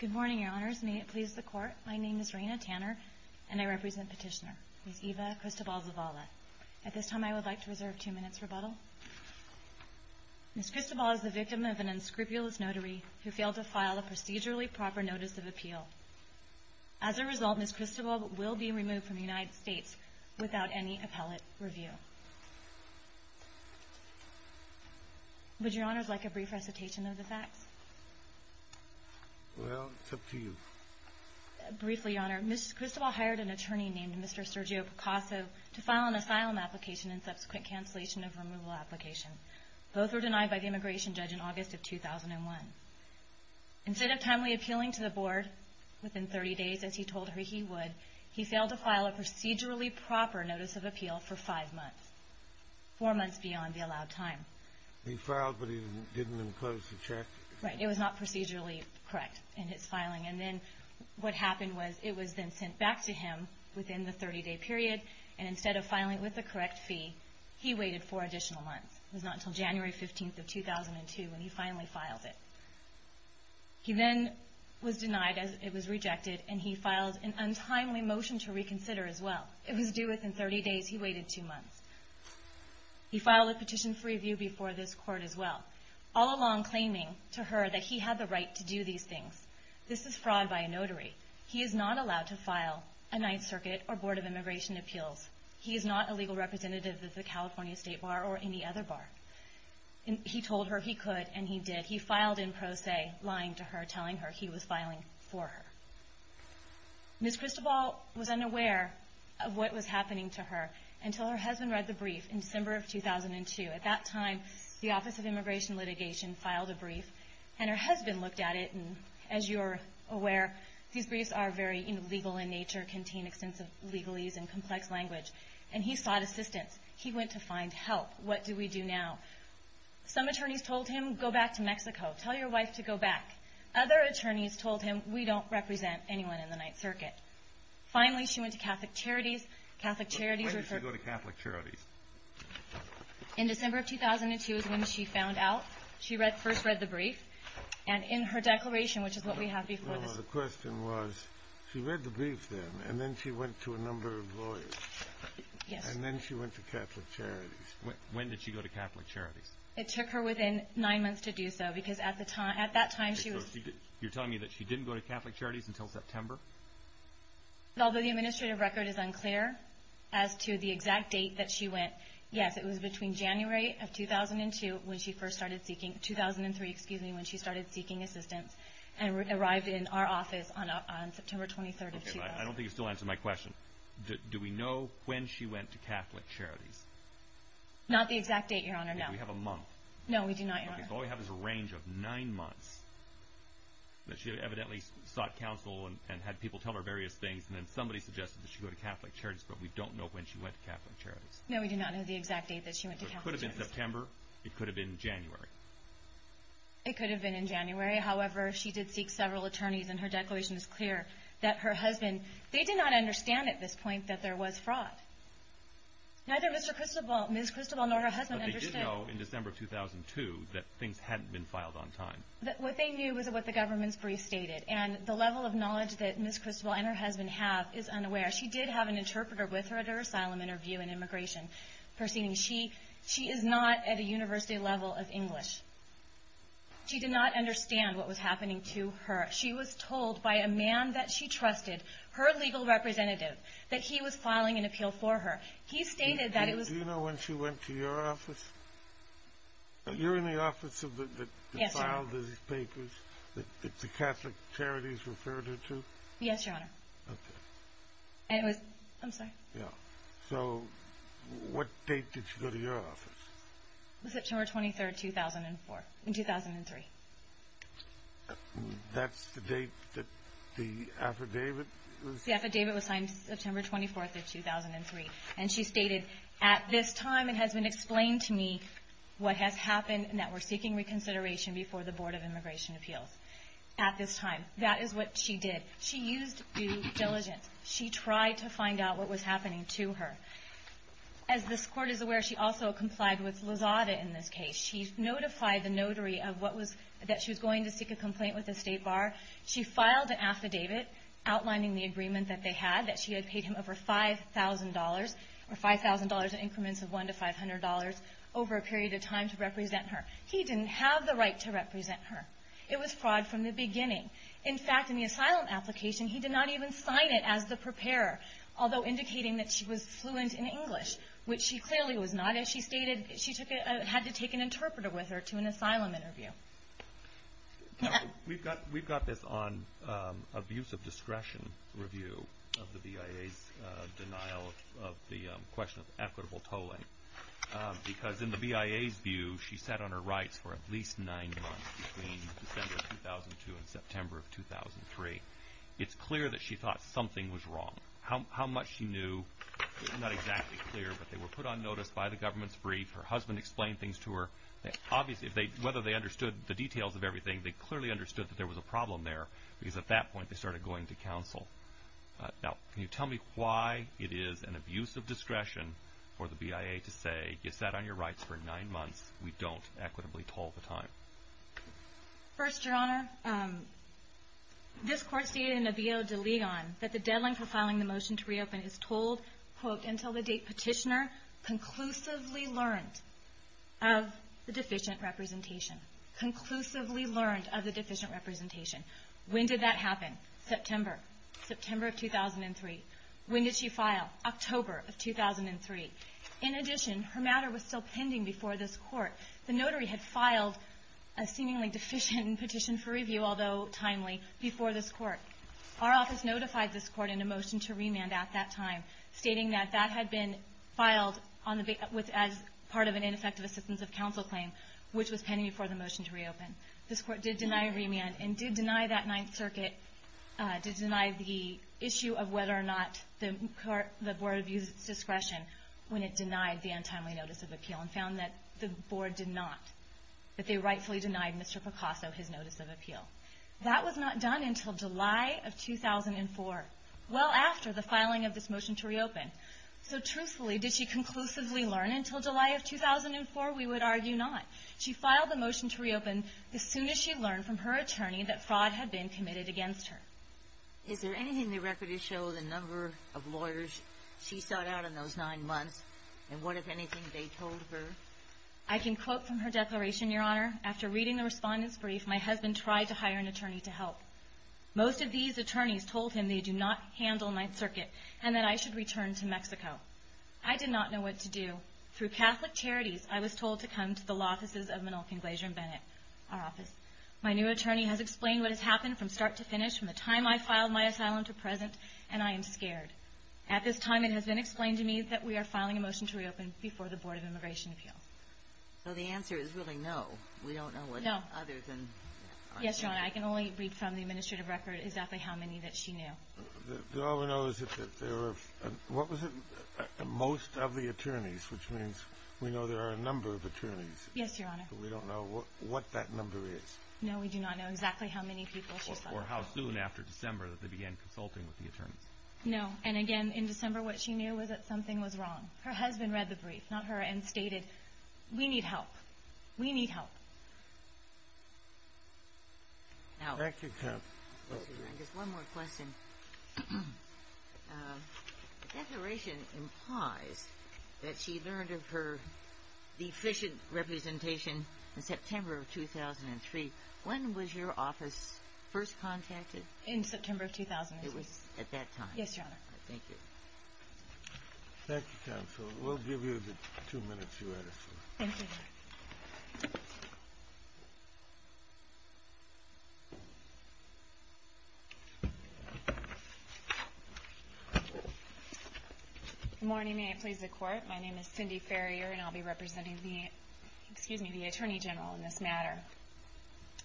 Good morning, Your Honors. May it please the Court, my name is Raina Tanner, and I represent Petitioner, Ms. Eva Cristobal Zavala. At this time, I would like to reserve two minutes for rebuttal. Ms. Cristobal is the victim of an unscrupulous notary who failed to file a procedurally proper notice of appeal. As a result, Ms. Cristobal will be removed from the United States without any appellate review. Would you, Your Honors, like a brief recitation of the facts? Well, it's up to you. Briefly, Your Honor, Ms. Cristobal hired an attorney named Mr. Sergio Picasso to file an asylum application and subsequent cancellation of removal application. Both were denied by the immigration judge in August of 2001. Instead of timely appealing to the board within 30 days, as he told her he would, he failed to file a procedurally proper notice of appeal for five months, four months beyond the allowed time. He filed, but he didn't enclose the check? Right. It was not procedurally correct in his filing. And then what happened was it was then sent back to him within the 30-day period, and instead of filing with the correct He then was denied as it was rejected, and he filed an untimely motion to reconsider as well. It was due within 30 days. He waited two months. He filed a petition for review before this Court as well, all along claiming to her that he had the right to do these things. This is fraud by a notary. He is not allowed to file a Ninth Circuit or Board of Immigration appeals. He is not a legal representative of the California State Bar or any other bar. He told her he could, and he did. He filed in pro se, lying to her, telling her he was filing for her. Ms. Christobal was unaware of what was happening to her until her husband read the brief in December of 2002. At that time, the Office of Immigration Litigation filed a brief, and her husband looked at it, and as you are aware, these briefs are very illegal in nature, contain extensive legalese and complex language, and he sought assistance. He went to find help. What do we do now? Some attorneys told him, go back to Mexico. Tell your wife to go back. Other attorneys told him, we don't represent anyone in the Ninth Circuit. Finally, she went to Catholic Charities. Catholic Charities referred her to Catholic Charities. In December of 2002 is when she found out. She first read the brief, and in her declaration, which is what we have before this. No, no. The question was, she read the brief then, and then she went to a number of lawyers. Yes. And then she went to Catholic Charities. When did she go to Catholic Charities? It took her within nine months to do so, because at that time, she was... You're telling me that she didn't go to Catholic Charities until September? Although the administrative record is unclear as to the exact date that she went, yes, it was between January of 2002 when she first started seeking...2003, excuse me, when she started seeking assistance, and arrived in our office on September 23rd of 2002. Okay, but I don't think you've still answered my question. Do we know when she went to Catholic Charities? Not the exact date, Your Honor, no. Do we have a month? No, we do not, Your Honor. Okay, so all we have is a range of nine months that she evidently sought counsel and had people tell her various things, and then somebody suggested that she go to Catholic Charities, but we don't know when she went to Catholic Charities. No, we do not know the exact date that she went to Catholic Charities. So it could have been September, it could have been January. It could have been in January, however, she did seek several attorneys, and her declaration is clear that her husband...they did not understand at this point that there was fraud. Neither Mr. Cristobal, Ms. Cristobal, nor her husband understood. But they did know in December of 2002 that things hadn't been filed on time. What they knew was what the government's brief stated, and the level of knowledge that Ms. Cristobal and her husband have is unaware. She did have an interpreter with her at her proceeding. She is not at a university level of English. She did not understand what was happening to her. She was told by a man that she trusted, her legal representative, that he was filing an appeal for her. He stated that it was... Do you know when she went to your office? You're in the office that filed these papers that the Catholic Charities referred her to? Yes, Your Honor. Okay. And it was...I'm sorry. Yeah. So what date did she go to your office? It was September 23rd, 2004...2003. That's the date that the affidavit was... The affidavit was signed September 24th of 2003. And she stated, at this time it has been explained to me what has happened and that we're seeking reconsideration before the Board of Immigration Appeals. At this time. That is what she did. She used due diligence. She tried to find out what was happening to her. As this Court is aware, she also complied with Lozada in this case. She notified the notary of what was...that she was going to seek a complaint with the State Bar. She filed an affidavit outlining the agreement that they had, that she had paid him over $5,000, or $5,000 in increments of $1,000 to $500, over a period of time to represent her. He didn't have the right to represent her. It was fraud from the beginning. In fact, in the asylum application, he did not even sign it as the preparer. Although indicating that she was fluent in English. Which she clearly was not. As she stated, she had to take an interpreter with her to an asylum interview. We've got this on abuse of discretion review of the BIA's denial of the question of equitable tolling. Because in the BIA's view, she sat on her rights for at least nine months. Between December of 2002 and September of 2003. It's clear that she thought something was wrong. How much she knew is not exactly clear. But they were put on notice by the government's brief. Her husband explained things to her. Obviously, whether they understood the details of everything, they clearly understood that there was a problem there. Because at that point, they started going to counsel. Now, can you tell me why it is an abuse of discretion for the BIA to say, you sat on your rights for nine months. We don't equitably toll the time. First, your honor, this court stated in a bill that the deadline for filing the motion to reopen is told, quote, until the date petitioner conclusively learned of the deficient representation. Conclusively learned of the deficient representation. When did that happen? September. September of 2003. When did she file? October of 2003. In addition, her matter was still pending before this court. The notary had filed a seemingly deficient petition for review, although timely, before this court. Our office notified this court in a motion to remand at that time, stating that that had been filed as part of an ineffective assistance of counsel claim, which was pending before the motion to reopen. This court did deny remand and did deny that Ninth Circuit, did deny the issue of whether or not the board abused its discretion when it denied the untimely notice of appeal and found that the board did not, that they rightfully denied Mr. Picasso his notice of appeal. That was not done until July of 2004, well after the filing of this motion to reopen. So truthfully, did she conclusively learn until July of 2004? We would argue not. She filed the motion to reopen as soon as she learned from her attorney that fraud had been committed against her. Is there anything in the record to show the number of lawyers she sought out in those nine months and what, if anything, they told her? I can quote from her declaration, Your Honor. After reading the respondent's brief, my husband tried to hire an attorney to help. Most of these attorneys told him they do not handle Ninth Circuit and that I should return to Mexico. I did not know what to do. So through Catholic Charities, I was told to come to the law offices of Minolca and Glazier and Bennett, our office. My new attorney has explained what has happened from start to finish from the time I filed my asylum to present, and I am scared. At this time, it has been explained to me that we are filing a motion to reopen before the Board of Immigration Appeals. So the answer is really no. We don't know what other than our attorney. Yes, Your Honor. I can only read from the administrative record exactly how many that she knew. All we know is that there were, what was it, most of the attorneys, which means we know there are a number of attorneys. Yes, Your Honor. But we don't know what that number is. No, we do not know exactly how many people she saw. Or how soon after December that they began consulting with the attorneys. No. And again, in December, what she knew was that something was wrong. Her husband read the brief, not her, and stated, we need help. We need help. Thank you, Counsel. Just one more question. Declaration implies that she learned of her deficient representation in September of 2003. When was your office first contacted? In September of 2003. It was at that time. Yes, Your Honor. Thank you. Thank you, Counsel. We'll give you the two minutes you asked for. Thank you, Your Honor. Good morning. May it please the Court. My name is Cindy Farrier, and I'll be representing the Attorney General in this matter.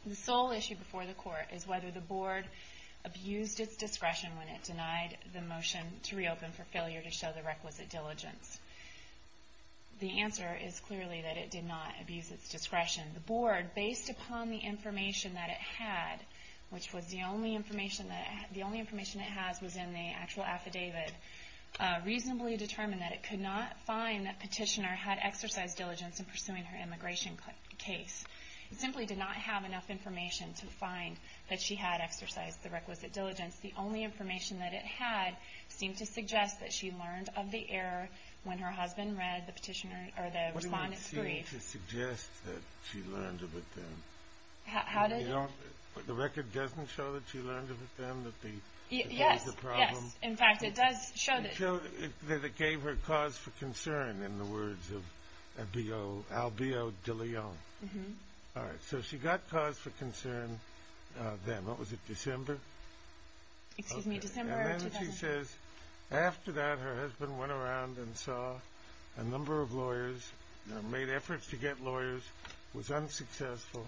The sole issue before the Court is whether the Board abused its discretion when it denied the motion to reopen for failure to show the requisite diligence. The answer is clearly that it did not abuse its discretion. The Board, based upon the information that it had, which was the only information it has was in the actual affidavit, reasonably determined that it could not find that Petitioner had exercised diligence in pursuing her immigration case. It simply did not have enough information to find that she had exercised the requisite diligence. The only information that it had seemed to suggest that she learned of the error when her husband read the respondent's brief. What do you mean, seemed to suggest that she learned of it then? How did it? The record doesn't show that she learned of it then, that there was a problem? Yes, yes. In fact, it does show that. It showed that it gave her cause for concern in the words of Albio de Leon. All right. So she got cause for concern then. What was it, December? Excuse me, December of 2000. And then she says, after that, her husband went around and saw a number of lawyers, made efforts to get lawyers, was unsuccessful,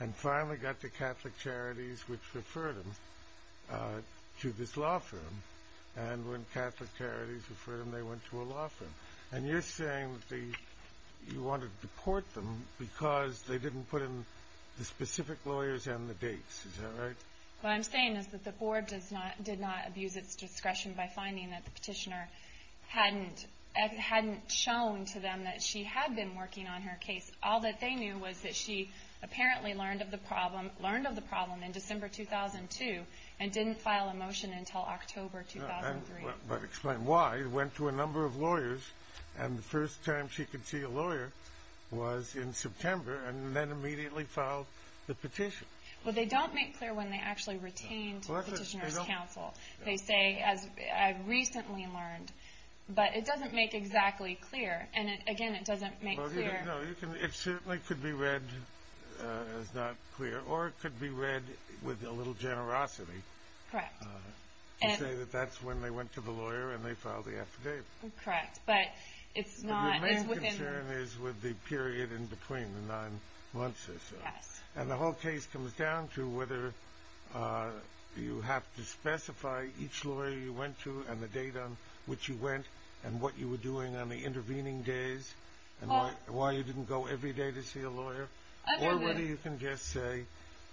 and finally got the Catholic Charities, which referred him to this law firm. And when Catholic Charities referred him, they went to a law firm. And you're saying that you wanted to deport them because they didn't put in the specific lawyers and the dates. Is that right? What I'm saying is that the Board did not abuse its discretion by finding that the petitioner hadn't shown to them that she had been working on her case. All that they knew was that she apparently learned of the problem in December 2002 and didn't file a motion until October 2003. Explain why. She went to a number of lawyers, and the first time she could see a lawyer was in September and then immediately filed the petition. Well, they don't make clear when they actually retained the petitioner's counsel. They say, as I recently learned, but it doesn't make exactly clear. And, again, it doesn't make clear. It certainly could be read as not clear, or it could be read with a little generosity. Correct. To say that that's when they went to the lawyer and they filed the affidavit. Correct, but it's not. Your main concern is with the period in between, the nine months or so. Yes. And the whole case comes down to whether you have to specify each lawyer you went to and the date on which you went and what you were doing on the intervening days and why you didn't go every day to see a lawyer. Or whether you can just say,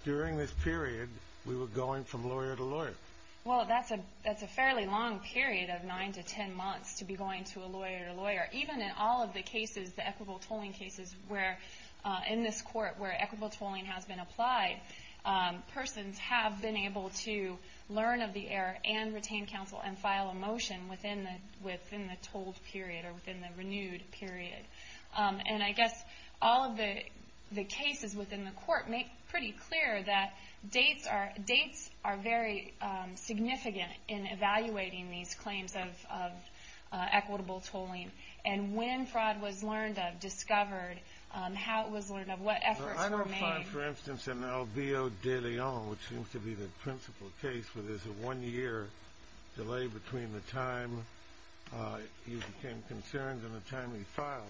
during this period, we were going from lawyer to lawyer. Well, that's a fairly long period of nine to ten months to be going to a lawyer to lawyer. Even in all of the cases, the equitable tolling cases, where in this court where equitable tolling has been applied, persons have been able to learn of the error and retain counsel and file a motion within the tolled period or within the renewed period. And I guess all of the cases within the court make pretty clear that dates are very significant in evaluating these claims of equitable tolling. And when fraud was learned of, discovered, how it was learned of, what efforts were made. I don't find, for instance, in El Vio de Leon, which seems to be the principal case where there's a one-year delay between the time you became concerned and the time he filed,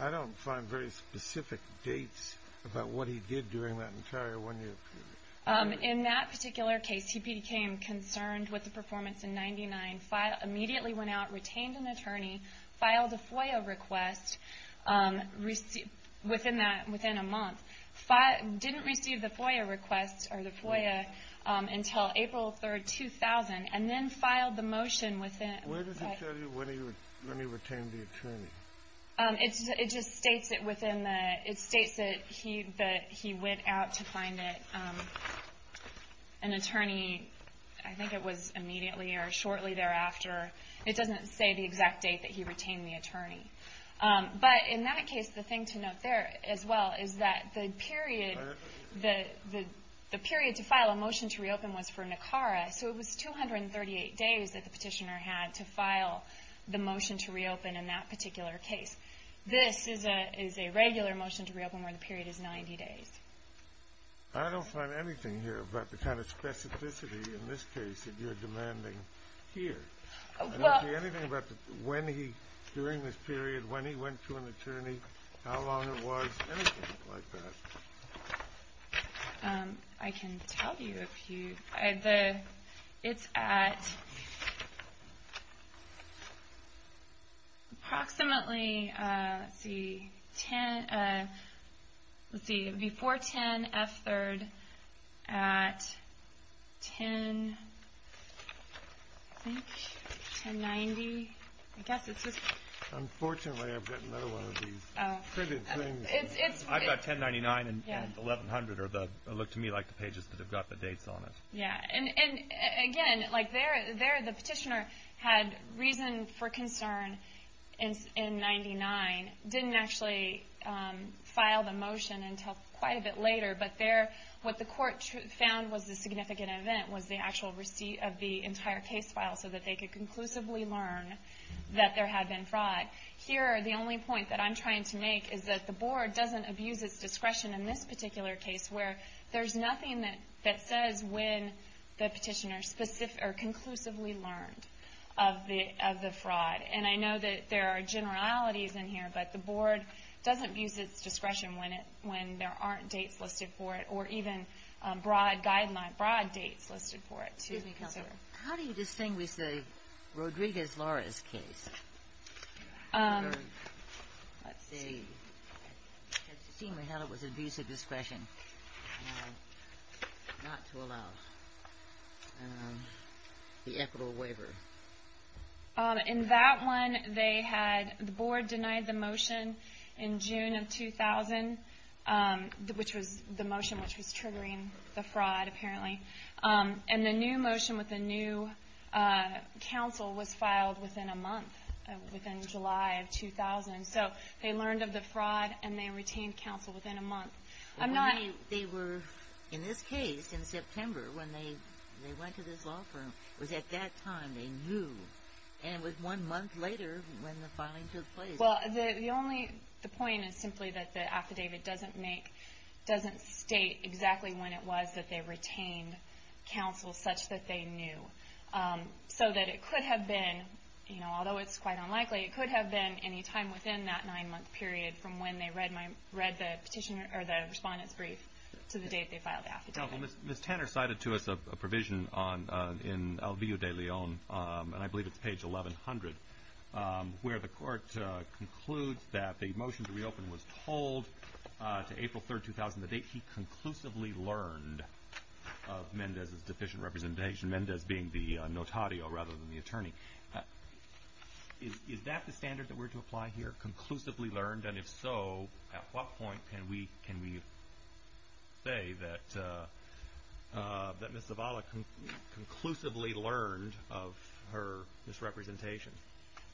I don't find very specific dates about what he did during that entire one-year period. In that particular case, he became concerned with the performance in 1999, immediately went out, retained an attorney, filed a FOIA request within a month, didn't receive the FOIA request or the FOIA until April 3, 2000, and then filed the motion within- Where does it say when he retained the attorney? It just states it within the- it states that he went out to find an attorney, I think it was immediately or shortly thereafter. It doesn't say the exact date that he retained the attorney. But in that case, the thing to note there as well is that the period to file a motion to reopen was for Nicara, so it was 238 days that the petitioner had to file the motion to reopen in that particular case. This is a regular motion to reopen where the period is 90 days. I don't find anything here about the kind of specificity in this case that you're demanding here. I don't see anything about when he, during this period, when he went to an attorney, how long it was, anything like that. I can tell you if you- it's at approximately, let's see, before 10, F3rd, at 10, I think, 1090. I guess it's just- Unfortunately, I've got another one of these printed things. I've got 1099 and 1100 are the- look to me like the pages that have got the dates on it. Yeah, and again, like there the petitioner had reason for concern in 99, didn't actually file the motion until quite a bit later, but there what the court found was a significant event was the actual receipt of the entire case file so that they could conclusively learn that there had been fraud. Here, the only point that I'm trying to make is that the Board doesn't abuse its discretion in this particular case where there's nothing that says when the petitioner specifically or conclusively learned of the fraud. And I know that there are generalities in here, but the Board doesn't abuse its discretion when there aren't dates listed for it or even broad guidelines, broad dates listed for it to consider. How do you distinguish the Rodriguez-Lawrence case? Let's see. It seemed to me that it was abuse of discretion not to allow the equitable waiver. In that one, they had- the Board denied the motion in June of 2000, which was the motion which was triggering the fraud, apparently. And the new motion with the new counsel was filed within a month, within July of 2000. So they learned of the fraud and they retained counsel within a month. I'm not- They were, in this case, in September when they went to this law firm, was at that time they knew and it was one month later when the filing took place. Well, the only- the point is simply that the affidavit doesn't make- such that they knew. So that it could have been, you know, although it's quite unlikely, it could have been any time within that nine-month period from when they read my- read the petitioner- or the respondent's brief to the date they filed the affidavit. Well, Ms. Tanner cited to us a provision on- in El Villo de Leon, and I believe it's page 1100, where the court concludes that the motion to reopen was told to April 3, 2000, the date he conclusively learned of Mendez's deficient representation, Mendez being the notario rather than the attorney. Is that the standard that we're to apply here, conclusively learned? And if so, at what point can we say that Ms. Zavala conclusively learned of her misrepresentation?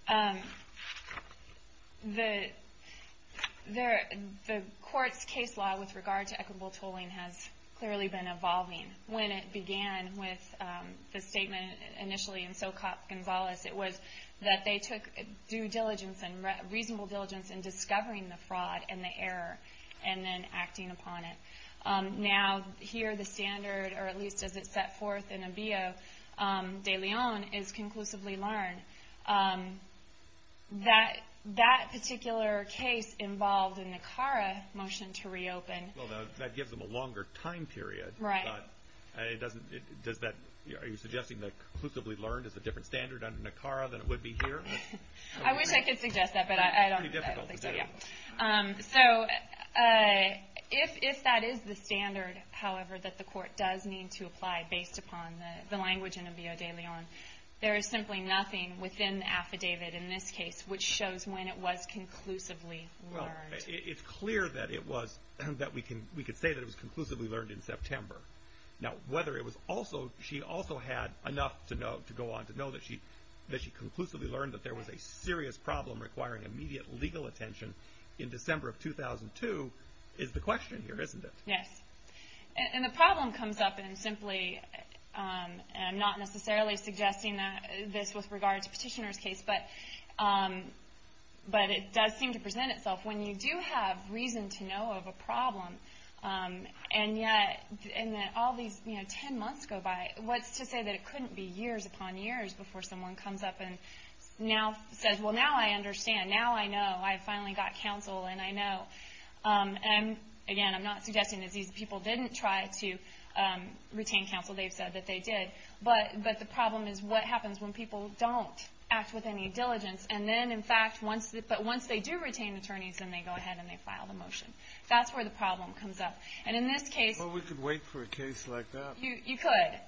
The court's case law with regard to equitable tolling has clearly been evolving. When it began with the statement initially in Socop Gonzalez, it was that they took due diligence and reasonable diligence in discovering the fraud and the error, and then acting upon it. Now, here the standard, or at least as it's set forth in El Villo de Leon, is conclusively learned. That particular case involved a NACARA motion to reopen. Well, that gives them a longer time period. Right. Does that- are you suggesting that conclusively learned is a different standard under NACARA than it would be here? I wish I could suggest that, but I don't think so, yeah. So, if that is the standard, however, that the court does need to apply based upon the language in El Villo de Leon, there is simply nothing within the affidavit in this case which shows when it was conclusively learned. Well, it's clear that it was- that we can say that it was conclusively learned in September. Now, whether it was also- she also had enough to go on to know that she conclusively learned that there was a serious problem requiring immediate legal attention in December of 2002 is the question here, isn't it? Yes. And the problem comes up in simply- and I'm not necessarily suggesting this with regard to Petitioner's case, but it does seem to present itself when you do have reason to know of a problem, and yet in all these ten months go by, what's to say that it couldn't be years upon years before someone comes up and now says, well, now I understand. Now I know. I finally got counsel, and I know. And, again, I'm not suggesting that these people didn't try to retain counsel. They've said that they did. But the problem is what happens when people don't act with any diligence and then, in fact, once- but once they do retain attorneys, then they go ahead and they file the motion. That's where the problem comes up. And in this case- Well, we could wait for a case like that. You could.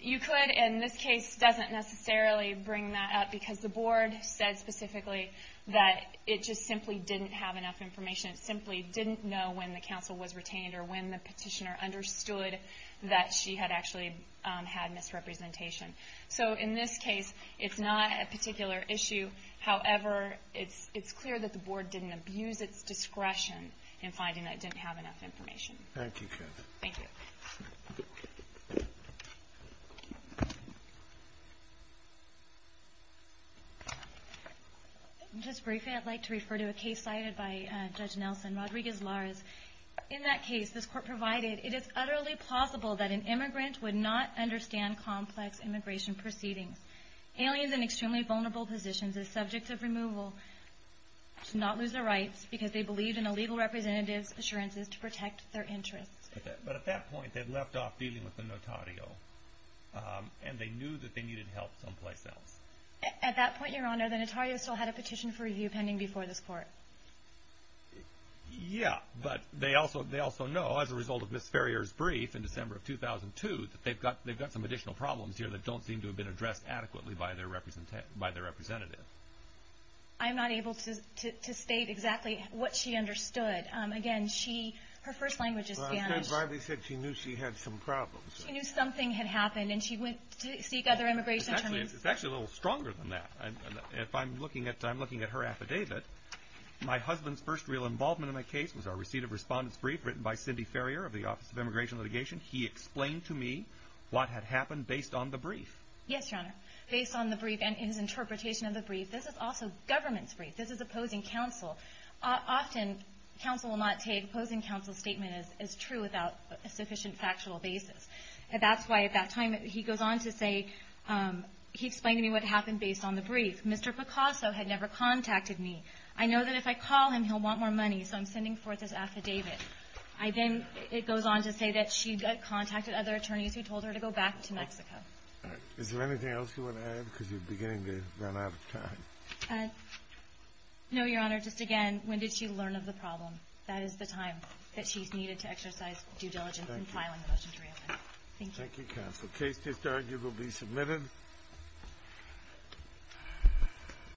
You could, and this case doesn't necessarily bring that up because the board said specifically that it just simply didn't have enough information. It simply didn't know when the counsel was retained or when the Petitioner understood that she had actually had misrepresentation. So in this case, it's not a particular issue. However, it's clear that the board didn't abuse its discretion in finding that it didn't have enough information. Thank you. Thank you. Just briefly, I'd like to refer to a case cited by Judge Nelson, Rodriguez-Larez. In that case, this court provided, it is utterly plausible that an immigrant would not understand complex immigration proceedings. Aliens in extremely vulnerable positions are subject to removal to not lose their rights because they believed in a legal representative's assurances to protect their interests. But at that point, they'd left off dealing with the notario, and they knew that they needed help someplace else. At that point, Your Honor, the notario still had a petition for review pending before this court. Yeah, but they also know, as a result of Ms. Ferrier's brief in December of 2002, that they've got some additional problems here that don't seem to have been addressed adequately by their representative. I'm not able to state exactly what she understood. Again, she, her first language is Spanish. Well, Judge Riley said she knew she had some problems. She knew something had happened, and she went to seek other immigration terms. It's actually a little stronger than that. If I'm looking at her affidavit, my husband's first real involvement in my case was our receipt of respondent's brief written by Cindy Ferrier of the Office of Immigration Litigation. He explained to me what had happened based on the brief. Yes, Your Honor, based on the brief and his interpretation of the brief. This is also government's brief. This is opposing counsel. Often, counsel will not take opposing counsel's statement as true without a sufficient factual basis. That's why, at that time, he goes on to say, he explained to me what happened based on the brief. Mr. Picasso had never contacted me. I know that if I call him, he'll want more money, so I'm sending forth this affidavit. I then, it goes on to say that she got contacted by other attorneys who told her to go back to Mexico. Is there anything else you want to add? Because you're beginning to run out of time. No, Your Honor. Just again, when did she learn of the problem? That is the time that she's needed to exercise due diligence in filing the motion to reopen. Thank you. Thank you, counsel. The case is arguably submitted.